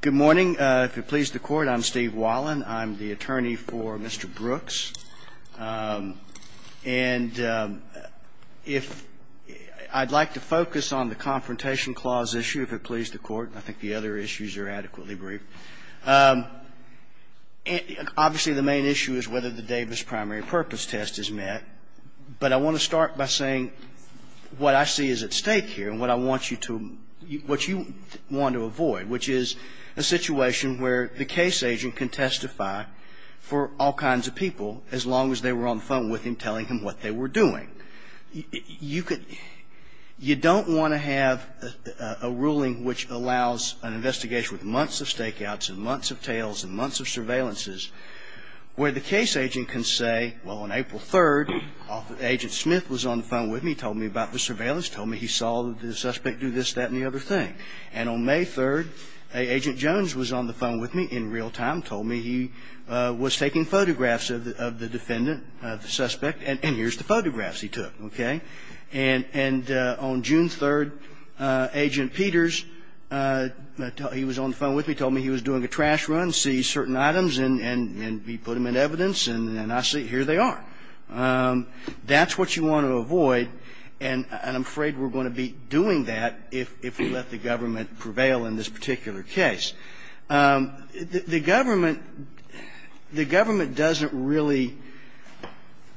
Good morning. If it pleases the Court, I'm Steve Wallin. I'm the attorney for Mr. Brooks. And if I'd like to focus on the Confrontation Clause issue, if it pleases the Court, and I think the other issues are adequately brief. Obviously, the main issue is whether the Davis primary purpose test is met. But I want to start by saying what I see is at stake here and what I want you to – what you want to avoid, which is a situation where the case agent can testify for all kinds of people, as long as they were on the phone with him telling him what they were doing. You could – you don't want to have a ruling which allows an investigation with months of stakeouts and months of tales and months of surveillances where the case agent can say, well, on April 3rd, Agent Smith was on the phone with me, told me about the surveillance, told me he saw the suspect do this, that, and the other thing. And on May 3rd, Agent Jones was on the phone with me in real time, told me he was taking photographs of the defendant, the suspect, and here's the photographs he took, okay? And on June 3rd, Agent Peters, he was on the phone with me, told me he was doing a trash run, seized certain items, and he put them in evidence, and I see – here they are. That's what you want to avoid, and I'm afraid we're going to be doing that if we let the government prevail in this particular case. The government – the government doesn't really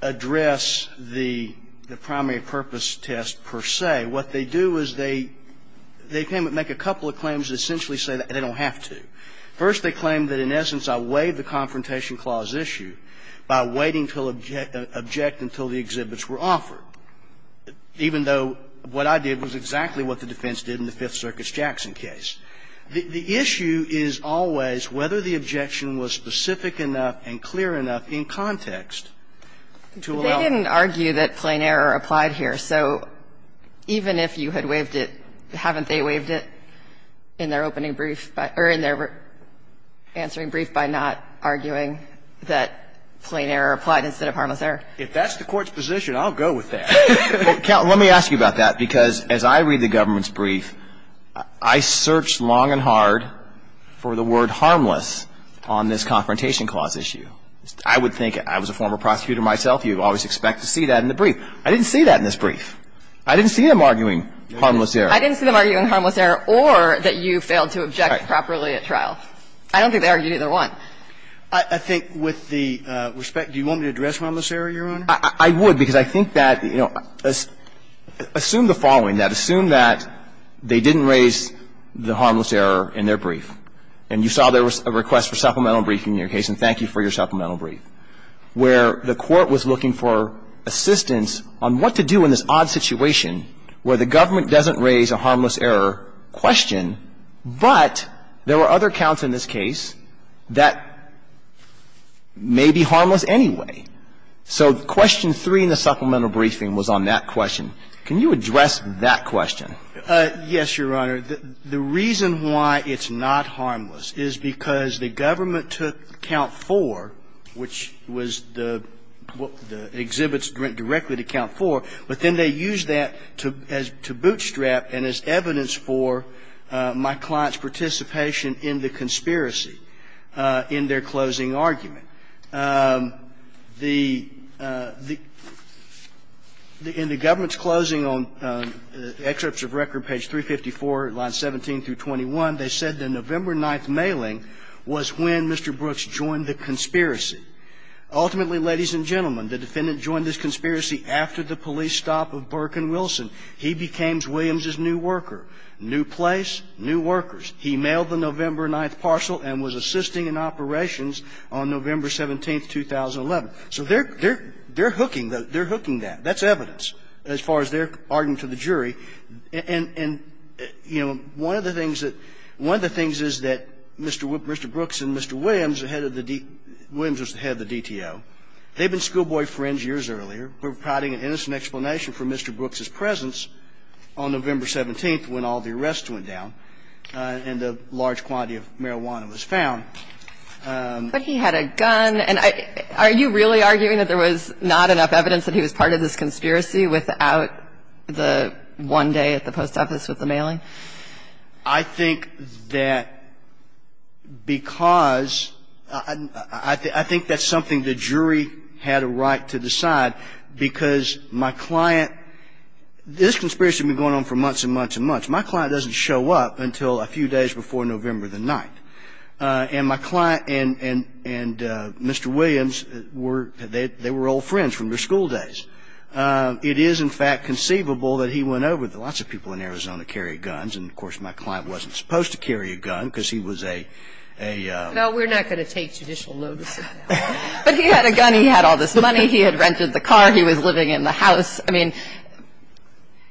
address the primary purpose test per se. What they do is they – they make a couple of claims that essentially say they don't have to. First, they claim that in essence I waived the Confrontation Clause issue by waiting to object until the exhibits were offered, even though what I did was exactly what the defense did in the Fifth Circuit's Jackson case. The issue is always whether the objection was specific enough and clear enough in context to allow it. They didn't argue that plain error applied here. So even if you had waived it, haven't they waived it in their opening brief by – or in their answering brief by not arguing that plain error applied instead of harmless error? If that's the Court's position, I'll go with that. Let me ask you about that, because as I read the government's brief, I searched long and hard for the word harmless on this Confrontation Clause issue. I would think – I was a former prosecutor myself. You always expect to see that in the brief. I didn't see that in this brief. I didn't see them arguing harmless error. I didn't see them arguing harmless error or that you failed to object properly at trial. I don't think they argued either one. I think with the respect – do you want me to address harmless error, Your Honor? I would, because I think that, you know, assume the following, that assume that they didn't raise the harmless error in their brief, and you saw there was a request for supplemental brief in your case, and thank you for your supplemental brief, where the Court was looking for assistance on what to do in this odd situation where the government doesn't raise a harmless error question, but there were other counts in this case that may be harmless anyway. So question 3 in the supplemental briefing was on that question. Can you address that question? Yes, Your Honor. The reason why it's not harmless is because the government took count 4, which was the exhibits directly to count 4, but then they used that to bootstrap and as evidence for my client's participation in the conspiracy in their closing argument. The – in the government's closing on excerpts of record, page 354, the government said, line 17 through 21, they said the November 9th mailing was when Mr. Brooks joined the conspiracy. Ultimately, ladies and gentlemen, the defendant joined this conspiracy after the police stop of Burke and Wilson. He became Williams's new worker. New place, new workers. He mailed the November 9th parcel and was assisting in operations on November 17th, 2011. So they're hooking that. They're hooking that. That's evidence as far as their argument to the jury. And, you know, one of the things that – one of the things is that Mr. Brooks and Mr. Williams, the head of the – Williams was the head of the DTO. They'd been schoolboy friends years earlier. They were providing an innocent explanation for Mr. Brooks's presence on November 17th when all the arrests went down and a large quantity of marijuana was found. But he had a gun. And are you really arguing that there was not enough evidence that he was part of this one day at the post office with the mailing? I think that because – I think that's something the jury had a right to decide because my client – this conspiracy had been going on for months and months and months. My client doesn't show up until a few days before November the 9th. And my client and Mr. Williams were – they were old friends from their school days. It is, in fact, conceivable that he went over – lots of people in Arizona carry guns, and, of course, my client wasn't supposed to carry a gun because he was a – a – No, we're not going to take judicial notice of that. But he had a gun. He had all this money. He had rented the car. He was living in the house. I mean,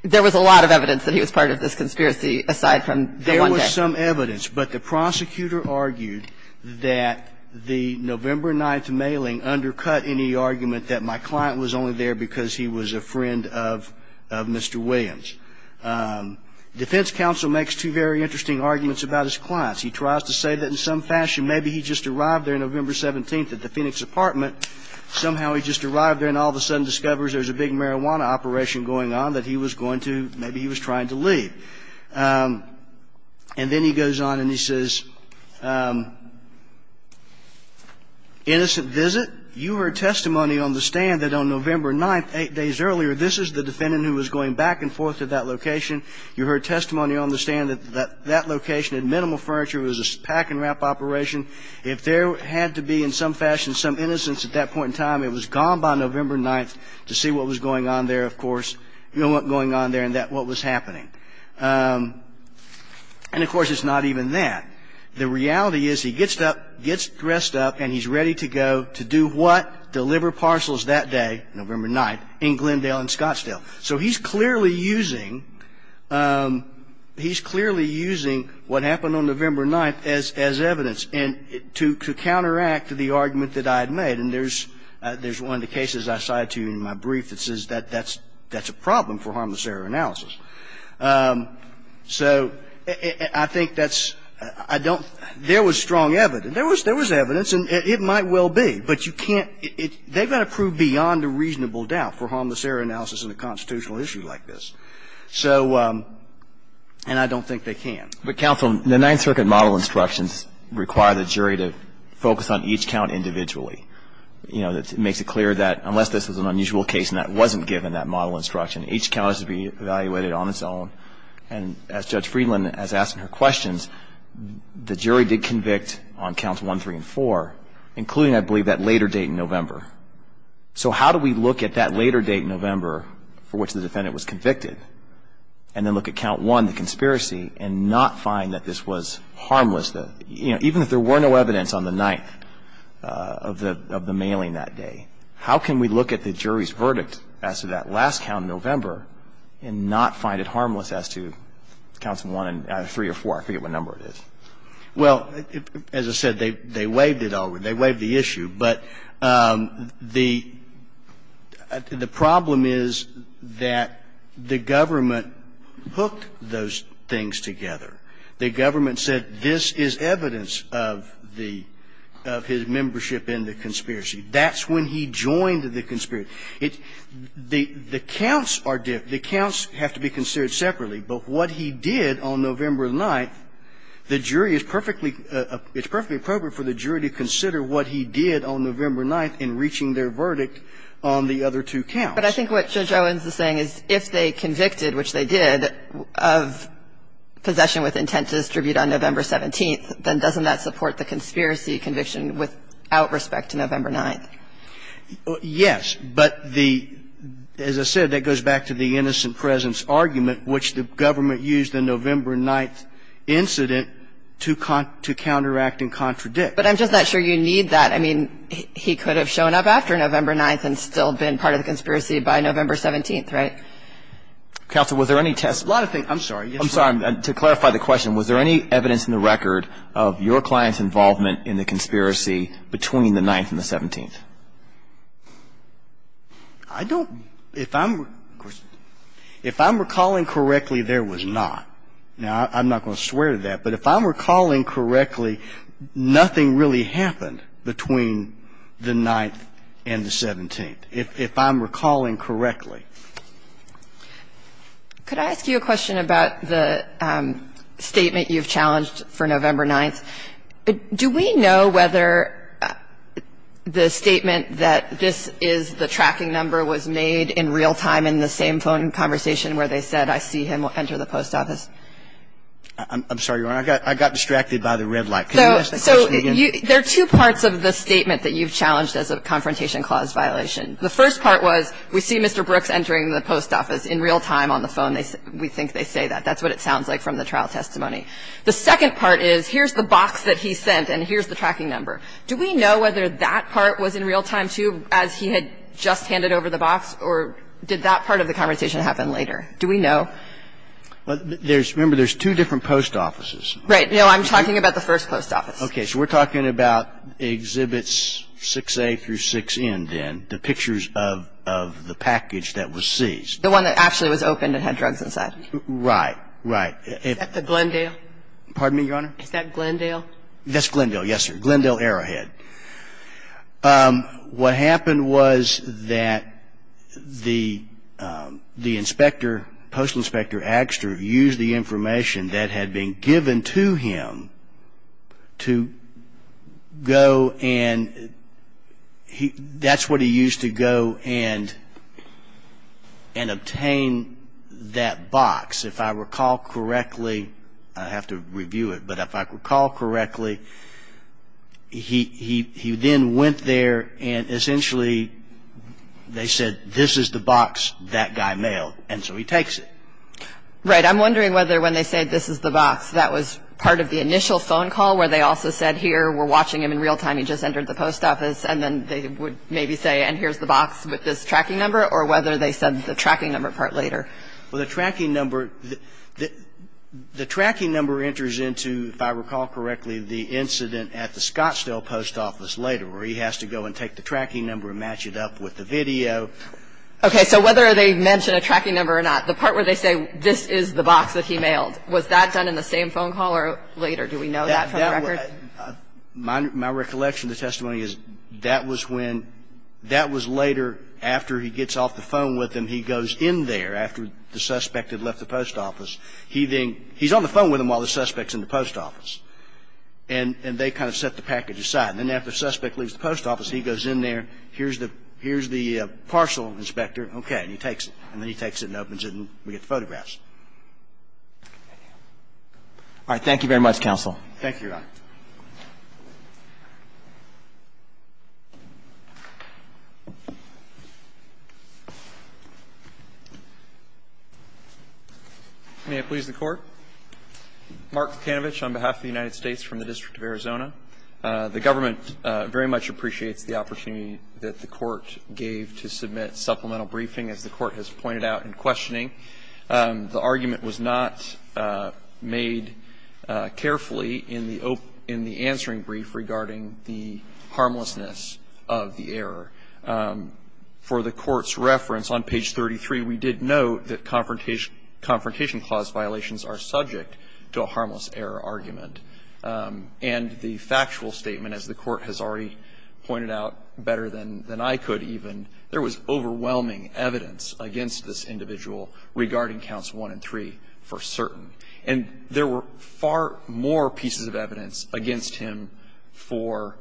there was a lot of evidence that he was part of this conspiracy aside from the one day. There was some evidence. But the prosecutor argued that the November 9th mailing undercut any argument that my client was only there because he was a friend of – of Mr. Williams. Defense counsel makes two very interesting arguments about his clients. He tries to say that in some fashion maybe he just arrived there November 17th at the Phoenix apartment. Somehow he just arrived there and all of a sudden discovers there's a big marijuana operation going on that he was going to – maybe he was trying to leave. And then he goes on and he says, Innocent visit. You heard testimony on the stand that on November 9th, eight days earlier, this is the defendant who was going back and forth to that location. You heard testimony on the stand that that location had minimal furniture. It was a pack-and-wrap operation. If there had to be in some fashion some innocence at that point in time, it was gone by November 9th to see what was going on there, of course. You know what was going on there and what was happening. And, of course, it's not even that. The reality is he gets up, gets dressed up, and he's ready to go to do what? Deliver parcels that day, November 9th, in Glendale and Scottsdale. So he's clearly using – he's clearly using what happened on November 9th as evidence to counteract the argument that I had made. And there's one of the cases I cited to you in my brief that says that that's a problem for harmless error analysis. So I think that's – I don't – there was strong evidence. There was evidence, and it might well be, but you can't – they've got to prove beyond a reasonable doubt for harmless error analysis in a constitutional issue like this. So – and I don't think they can. But, counsel, the Ninth Circuit model instructions require the jury to focus on each count individually. You know, it makes it clear that unless this is an unusual case and that wasn't given, that model instruction, each count has to be evaluated on its own. And as Judge Friedland has asked in her questions, the jury did convict on counts 1, 3, and 4, including, I believe, that later date in November. So how do we look at that later date in November for which the defendant was convicted and then look at count 1, the conspiracy, and not find that this was harmless? You know, even if there were no evidence on the 9th of the mailing that day, how can we look at the jury's verdict as to that last count in November and not find it harmless as to counts 1 and 3 or 4? I forget what number it is. Well, as I said, they waved it over. They waved the issue. But the problem is that the government hooked those things together. The government said this is evidence of the – of his membership in the conspiracy. That's when he joined the conspiracy. The counts are different. The counts have to be considered separately. But what he did on November 9th, the jury is perfectly – it's perfectly appropriate for the jury to consider what he did on November 9th in reaching their verdict on the other two counts. But I think what Judge Owens is saying is if they convicted, which they did, of possession with intent to distribute on November 17th, then doesn't that support the conspiracy conviction without respect to November 9th? Yes. But the – as I said, that goes back to the innocent presence argument, which the government used the November 9th incident to counteract and contradict. But I'm just not sure you need that. I mean, he could have shown up after November 9th and still been part of the conspiracy by November 17th, right? Counsel, was there any – A lot of things – I'm sorry. I'm sorry. To clarify the question, was there any evidence in the record of your client's involvement in the conspiracy between the 9th and the 17th? I don't – if I'm – if I'm recalling correctly, there was not. Now, I'm not going to swear to that, but if I'm recalling correctly, nothing really happened between the 9th and the 17th, if I'm recalling correctly. Could I ask you a question about the statement you've challenged for November 9th? Do we know whether the statement that this is the tracking number was made in real time in the same phone conversation where they said, I see him enter the post office? I'm sorry, Your Honor. I got distracted by the red light. Can you ask the question again? So there are two parts of the statement that you've challenged as a confrontation clause violation. The first part was, we see Mr. Brooks entering the post office in real time on the phone. We think they say that. That's what it sounds like from the trial testimony. The second part is, here's the box that he sent and here's the tracking number. Do we know whether that part was in real time, too, as he had just handed over the box, or did that part of the conversation happen later? Do we know? There's – remember, there's two different post offices. Right. No, I'm talking about the first post office. Okay. So we're talking about Exhibits 6A through 6N, then, the pictures of the package that was seized. The one that actually was opened and had drugs inside. Right. Right. Is that the Glendale? Pardon me, Your Honor? Is that Glendale? That's Glendale, yes, sir. Glendale Arrowhead. What happened was that the inspector, Postal Inspector Agster, used the information that had been given to him to go and – that's what he used to go and obtain that I have to review it, but if I recall correctly, he then went there and essentially they said, this is the box that guy mailed, and so he takes it. Right. I'm wondering whether when they said, this is the box, that was part of the initial phone call where they also said, here, we're watching him in real time, he just entered the post office, and then they would maybe say, and here's the box with this tracking number, or whether they said the tracking number part later? Well, the tracking number – the tracking number enters into, if I recall correctly, the incident at the Scottsdale post office later where he has to go and take the tracking number and match it up with the video. Okay. So whether they mention a tracking number or not, the part where they say, this is the box that he mailed, was that done in the same phone call or later? Do we know that for the record? No. My recollection of the testimony is that was when – that was later after he gets off the phone with him, he goes in there after the suspect had left the post office. He then – he's on the phone with him while the suspect's in the post office, and they kind of set the package aside. And then after the suspect leaves the post office, he goes in there, here's the – here's the parcel, inspector, okay, and he takes it. And then he takes it and opens it, and we get the photographs. All right. Thank you very much, counsel. Thank you, Your Honor. Thank you, Your Honor. May it please the Court. Mark Kanovich on behalf of the United States from the District of Arizona. The government very much appreciates the opportunity that the Court gave to submit supplemental briefing. As the Court has pointed out in questioning, the argument was not made carefully in the opening – in the answering brief regarding the harmlessness of the error. For the Court's reference on page 33, we did note that confrontation clause violations are subject to a harmless error argument. And the factual statement, as the Court has already pointed out better than I could even, there was overwhelming evidence against this individual regarding counts 1 and 3 for certain. And there were far more pieces of evidence against him for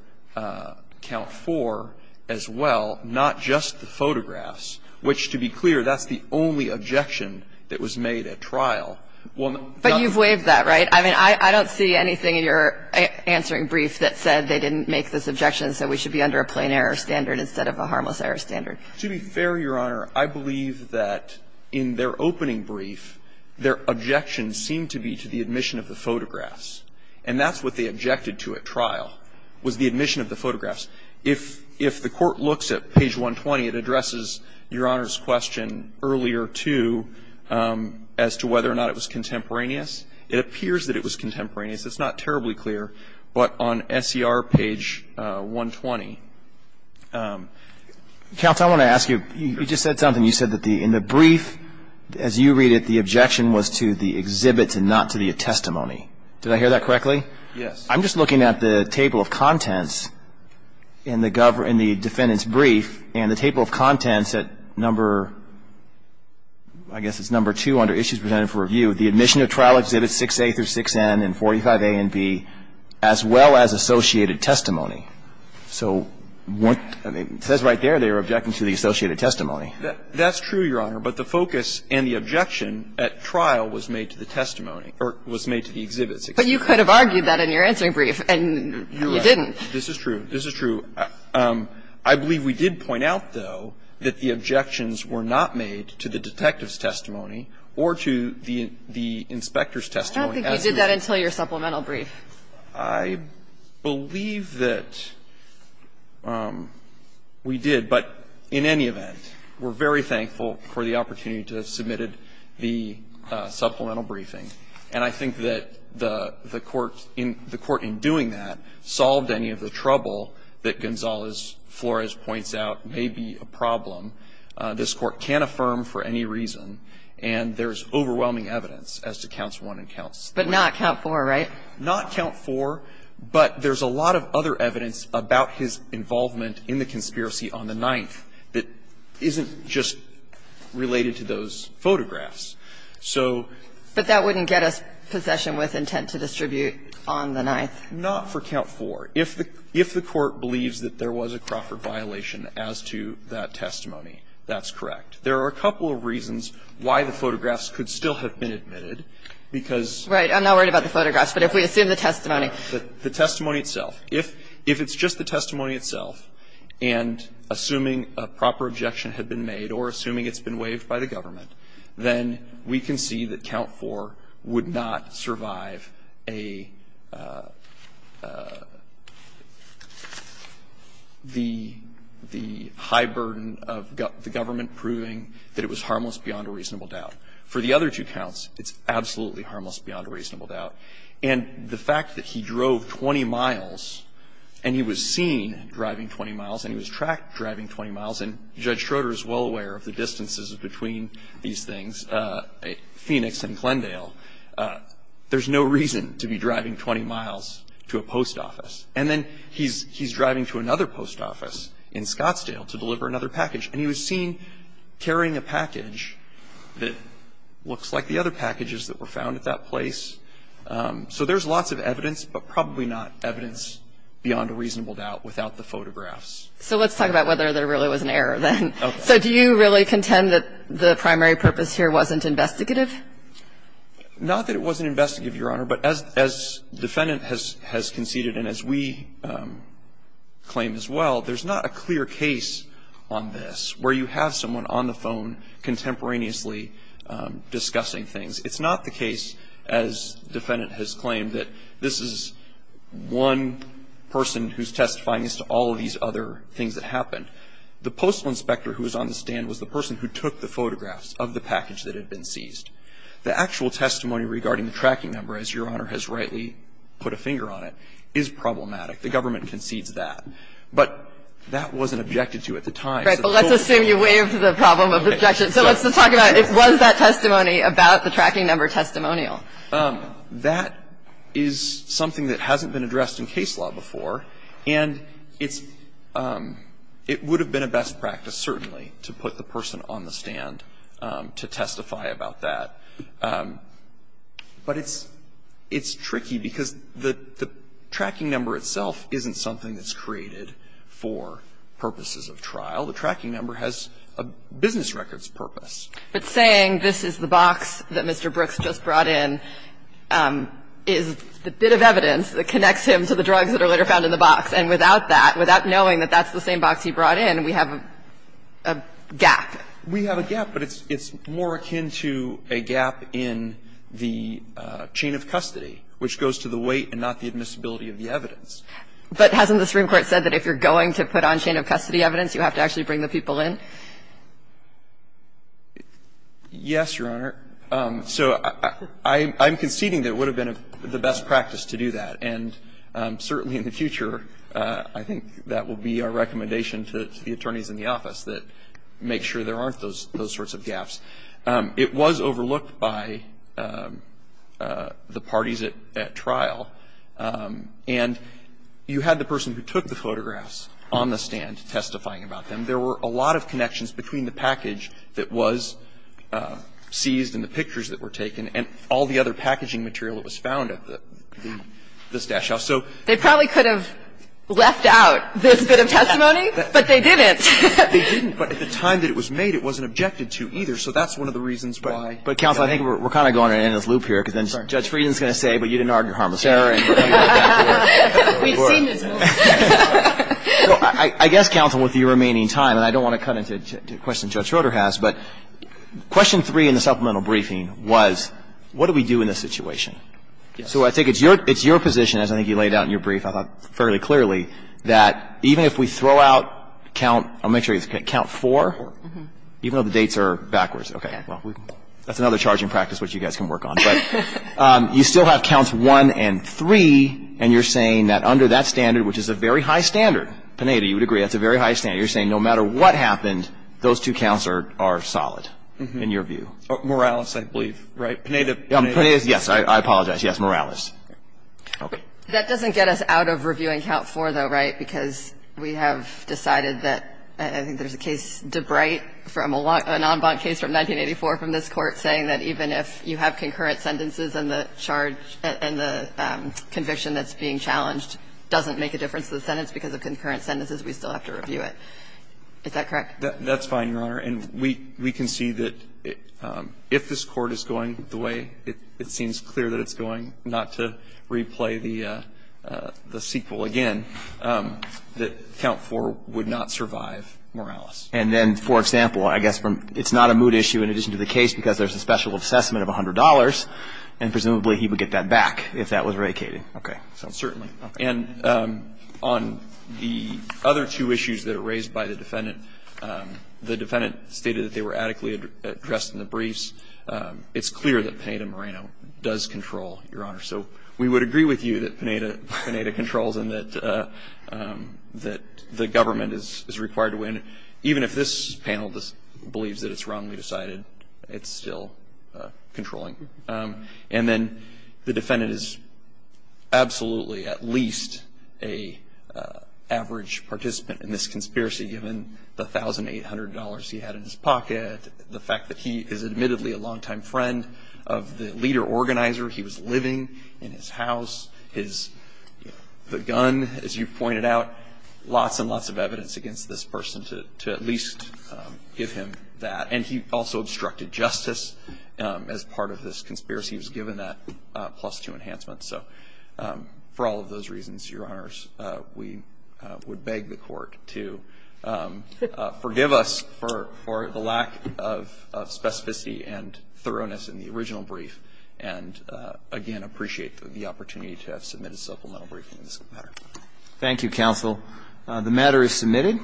count 4 as well, not just the photographs, which, to be clear, that's the only objection that was made at trial. But you've waived that, right? I mean, I don't see anything in your answering brief that said they didn't make this objection and said we should be under a plain error standard instead of a harmless error standard. To be fair, Your Honor, I believe that in their opening brief, their objections seemed to be to the admission of the photographs. And that's what they objected to at trial, was the admission of the photographs. If the Court looks at page 120, it addresses Your Honor's question earlier, too, as to whether or not it was contemporaneous. It appears that it was contemporaneous. It's not terribly clear. But on SCR page 120, counsel, I want to ask you, you just said something. You said that the brief, as you read it, the objection was to the exhibits and not to the testimony. Did I hear that correctly? Yes. I'm just looking at the table of contents in the defendant's brief, and the table of contents at number, I guess it's number 2 under issues presented for review, the admission of trial exhibits 6A through 6N and 45A and B, as well as associated testimony. So what, it says right there they were objecting to the associated testimony. That's true, Your Honor, but the focus and the objection at trial was made to the testimony or was made to the exhibits. But you could have argued that in your answering brief, and you didn't. This is true. This is true. I believe we did point out, though, that the objections were not made to the detective's testimony, but to the inspector's testimony. I don't think you did that until your supplemental brief. I believe that we did, but in any event, we're very thankful for the opportunity to have submitted the supplemental briefing. And I think that the Court, in doing that, solved any of the trouble that Gonzalez-Flores points out may be a problem this Court can't affirm for any reason, and there's no overwhelming evidence as to Counts 1 and Counts 3. But not Count 4, right? Not Count 4, but there's a lot of other evidence about his involvement in the conspiracy on the 9th that isn't just related to those photographs. So the Court's view is that the evidence is not in the 9th, but it's in the 9th. But that wouldn't get us possession with intent to distribute on the 9th. Not for Count 4. If the Court believes that there was a Crawford violation as to that testimony, that's correct. There are a couple of reasons why the photographs could still have been admitted, because the testimony itself. Right. I'm not worried about the photographs, but if we assume the testimony. If it's just the testimony itself, and assuming a proper objection had been made or assuming it's been waived by the government, then we can see that Count 4 would be a reasonable doubt. And the fact that he drove 20 miles and he was seen driving 20 miles and he was tracked driving 20 miles, and Judge Schroeder is well aware of the distances between these things, Phoenix and Glendale, there's no reason to be driving 20 miles to a post office. And then he's driving to another post office in Scottsdale to deliver another package, and he was seen carrying a package that looks like the other packages that were found at that place. So there's lots of evidence, but probably not evidence beyond a reasonable doubt without the photographs. So let's talk about whether there really was an error then. Okay. So do you really contend that the primary purpose here wasn't investigative? Not that it wasn't investigative, Your Honor, but as the defendant has conceded and as we claim as well, there's not a clear case on this where you have someone on the phone contemporaneously discussing things. It's not the case, as the defendant has claimed, that this is one person who's testifying as to all of these other things that happened. The postal inspector who was on the stand was the person who took the photographs of the package that had been seized. The actual testimony regarding the tracking number, as Your Honor has rightly put a problematic. The government concedes that. But that wasn't objected to at the time. Right. But let's assume you waived the problem of the objection. So let's talk about, was that testimony about the tracking number testimonial? That is something that hasn't been addressed in case law before, and it's – it would have been a best practice, certainly, to put the person on the stand to testify about that. But it's tricky because the tracking number itself isn't something that's created for purposes of trial. The tracking number has a business records purpose. But saying this is the box that Mr. Brooks just brought in is a bit of evidence that connects him to the drugs that are later found in the box. And without that, without knowing that that's the same box he brought in, we have a gap. We have a gap, but it's more akin to a gap in the chain of custody, which goes to the weight and not the admissibility of the evidence. But hasn't the Supreme Court said that if you're going to put on chain of custody evidence, you have to actually bring the people in? Yes, Your Honor. So I'm conceding that it would have been the best practice to do that. And certainly in the future, I think that will be our recommendation to the attorneys in the office that make sure there aren't those sorts of gaps. It was overlooked by the parties at trial. And you had the person who took the photographs on the stand testifying about them. There were a lot of connections between the package that was seized and the pictures that were taken and all the other packaging material that was found at the stash house. So they probably could have left out this bit of testimony, but they didn't. They didn't, but at the time that it was made, it wasn't objected to either. So that's one of the reasons why. But, Counsel, I think we're kind of going to end this loop here, because then Judge Frieden's going to say, well, you didn't argue harmless error. We've seen this before. So I guess, Counsel, with your remaining time, and I don't want to cut into questions Judge Schroeder has, but question three in the supplemental briefing was, what do we do in this situation? So I think it's your position, as I think you laid out in your brief, I thought, fairly clearly, that even if we throw out count, I'll make sure it's count four, even though the dates are backwards, okay, well, that's another charging practice which you guys can work on. But you still have counts one and three, and you're saying that under that standard, which is a very high standard, Pineda, you would agree that's a very high standard, you're saying no matter what happened, those two counts are solid in your view. Morales, I believe, right? Pineda. Yes, I apologize. Yes, Morales. Okay. That doesn't get us out of reviewing count four, though, right, because we have decided that, I think there's a case, DeBright, from a non-bond case from 1984 from this Court, saying that even if you have concurrent sentences and the charge and the conviction that's being challenged doesn't make a difference to the sentence because of concurrent sentences, we still have to review it. Is that correct? That's fine, Your Honor. And we can see that if this Court is going the way it seems clear that it's going, not to replay the sequel again, that count four would not survive Morales. And then, for example, I guess from the other two issues that are raised by the defendant, stated that they were adequately addressed in the briefs, it's clear that Pineda-Moreno does control, Your Honor. So we would agree with you that Pineda controls and that the government is required to win, even if this panel believes that it's wrongly decided, it's still controlling. And then the defendant is absolutely, at least, an average participant in this conspiracy given the $1,800 he had in his pocket, the fact that he is admittedly a longtime friend of the leader organizer, he was living in his house, the gun, as you pointed out, lots and lots of evidence against this person to at least give him that. And he also obstructed justice as part of this conspiracy. He was given that plus two enhancement. So for all of those reasons, Your Honors, we would beg the court to forgive us for the lack of specificity and thoroughness in the original brief and, again, appreciate the opportunity to have submitted a supplemental briefing in this matter. Thank you, counsel. The matter is submitted.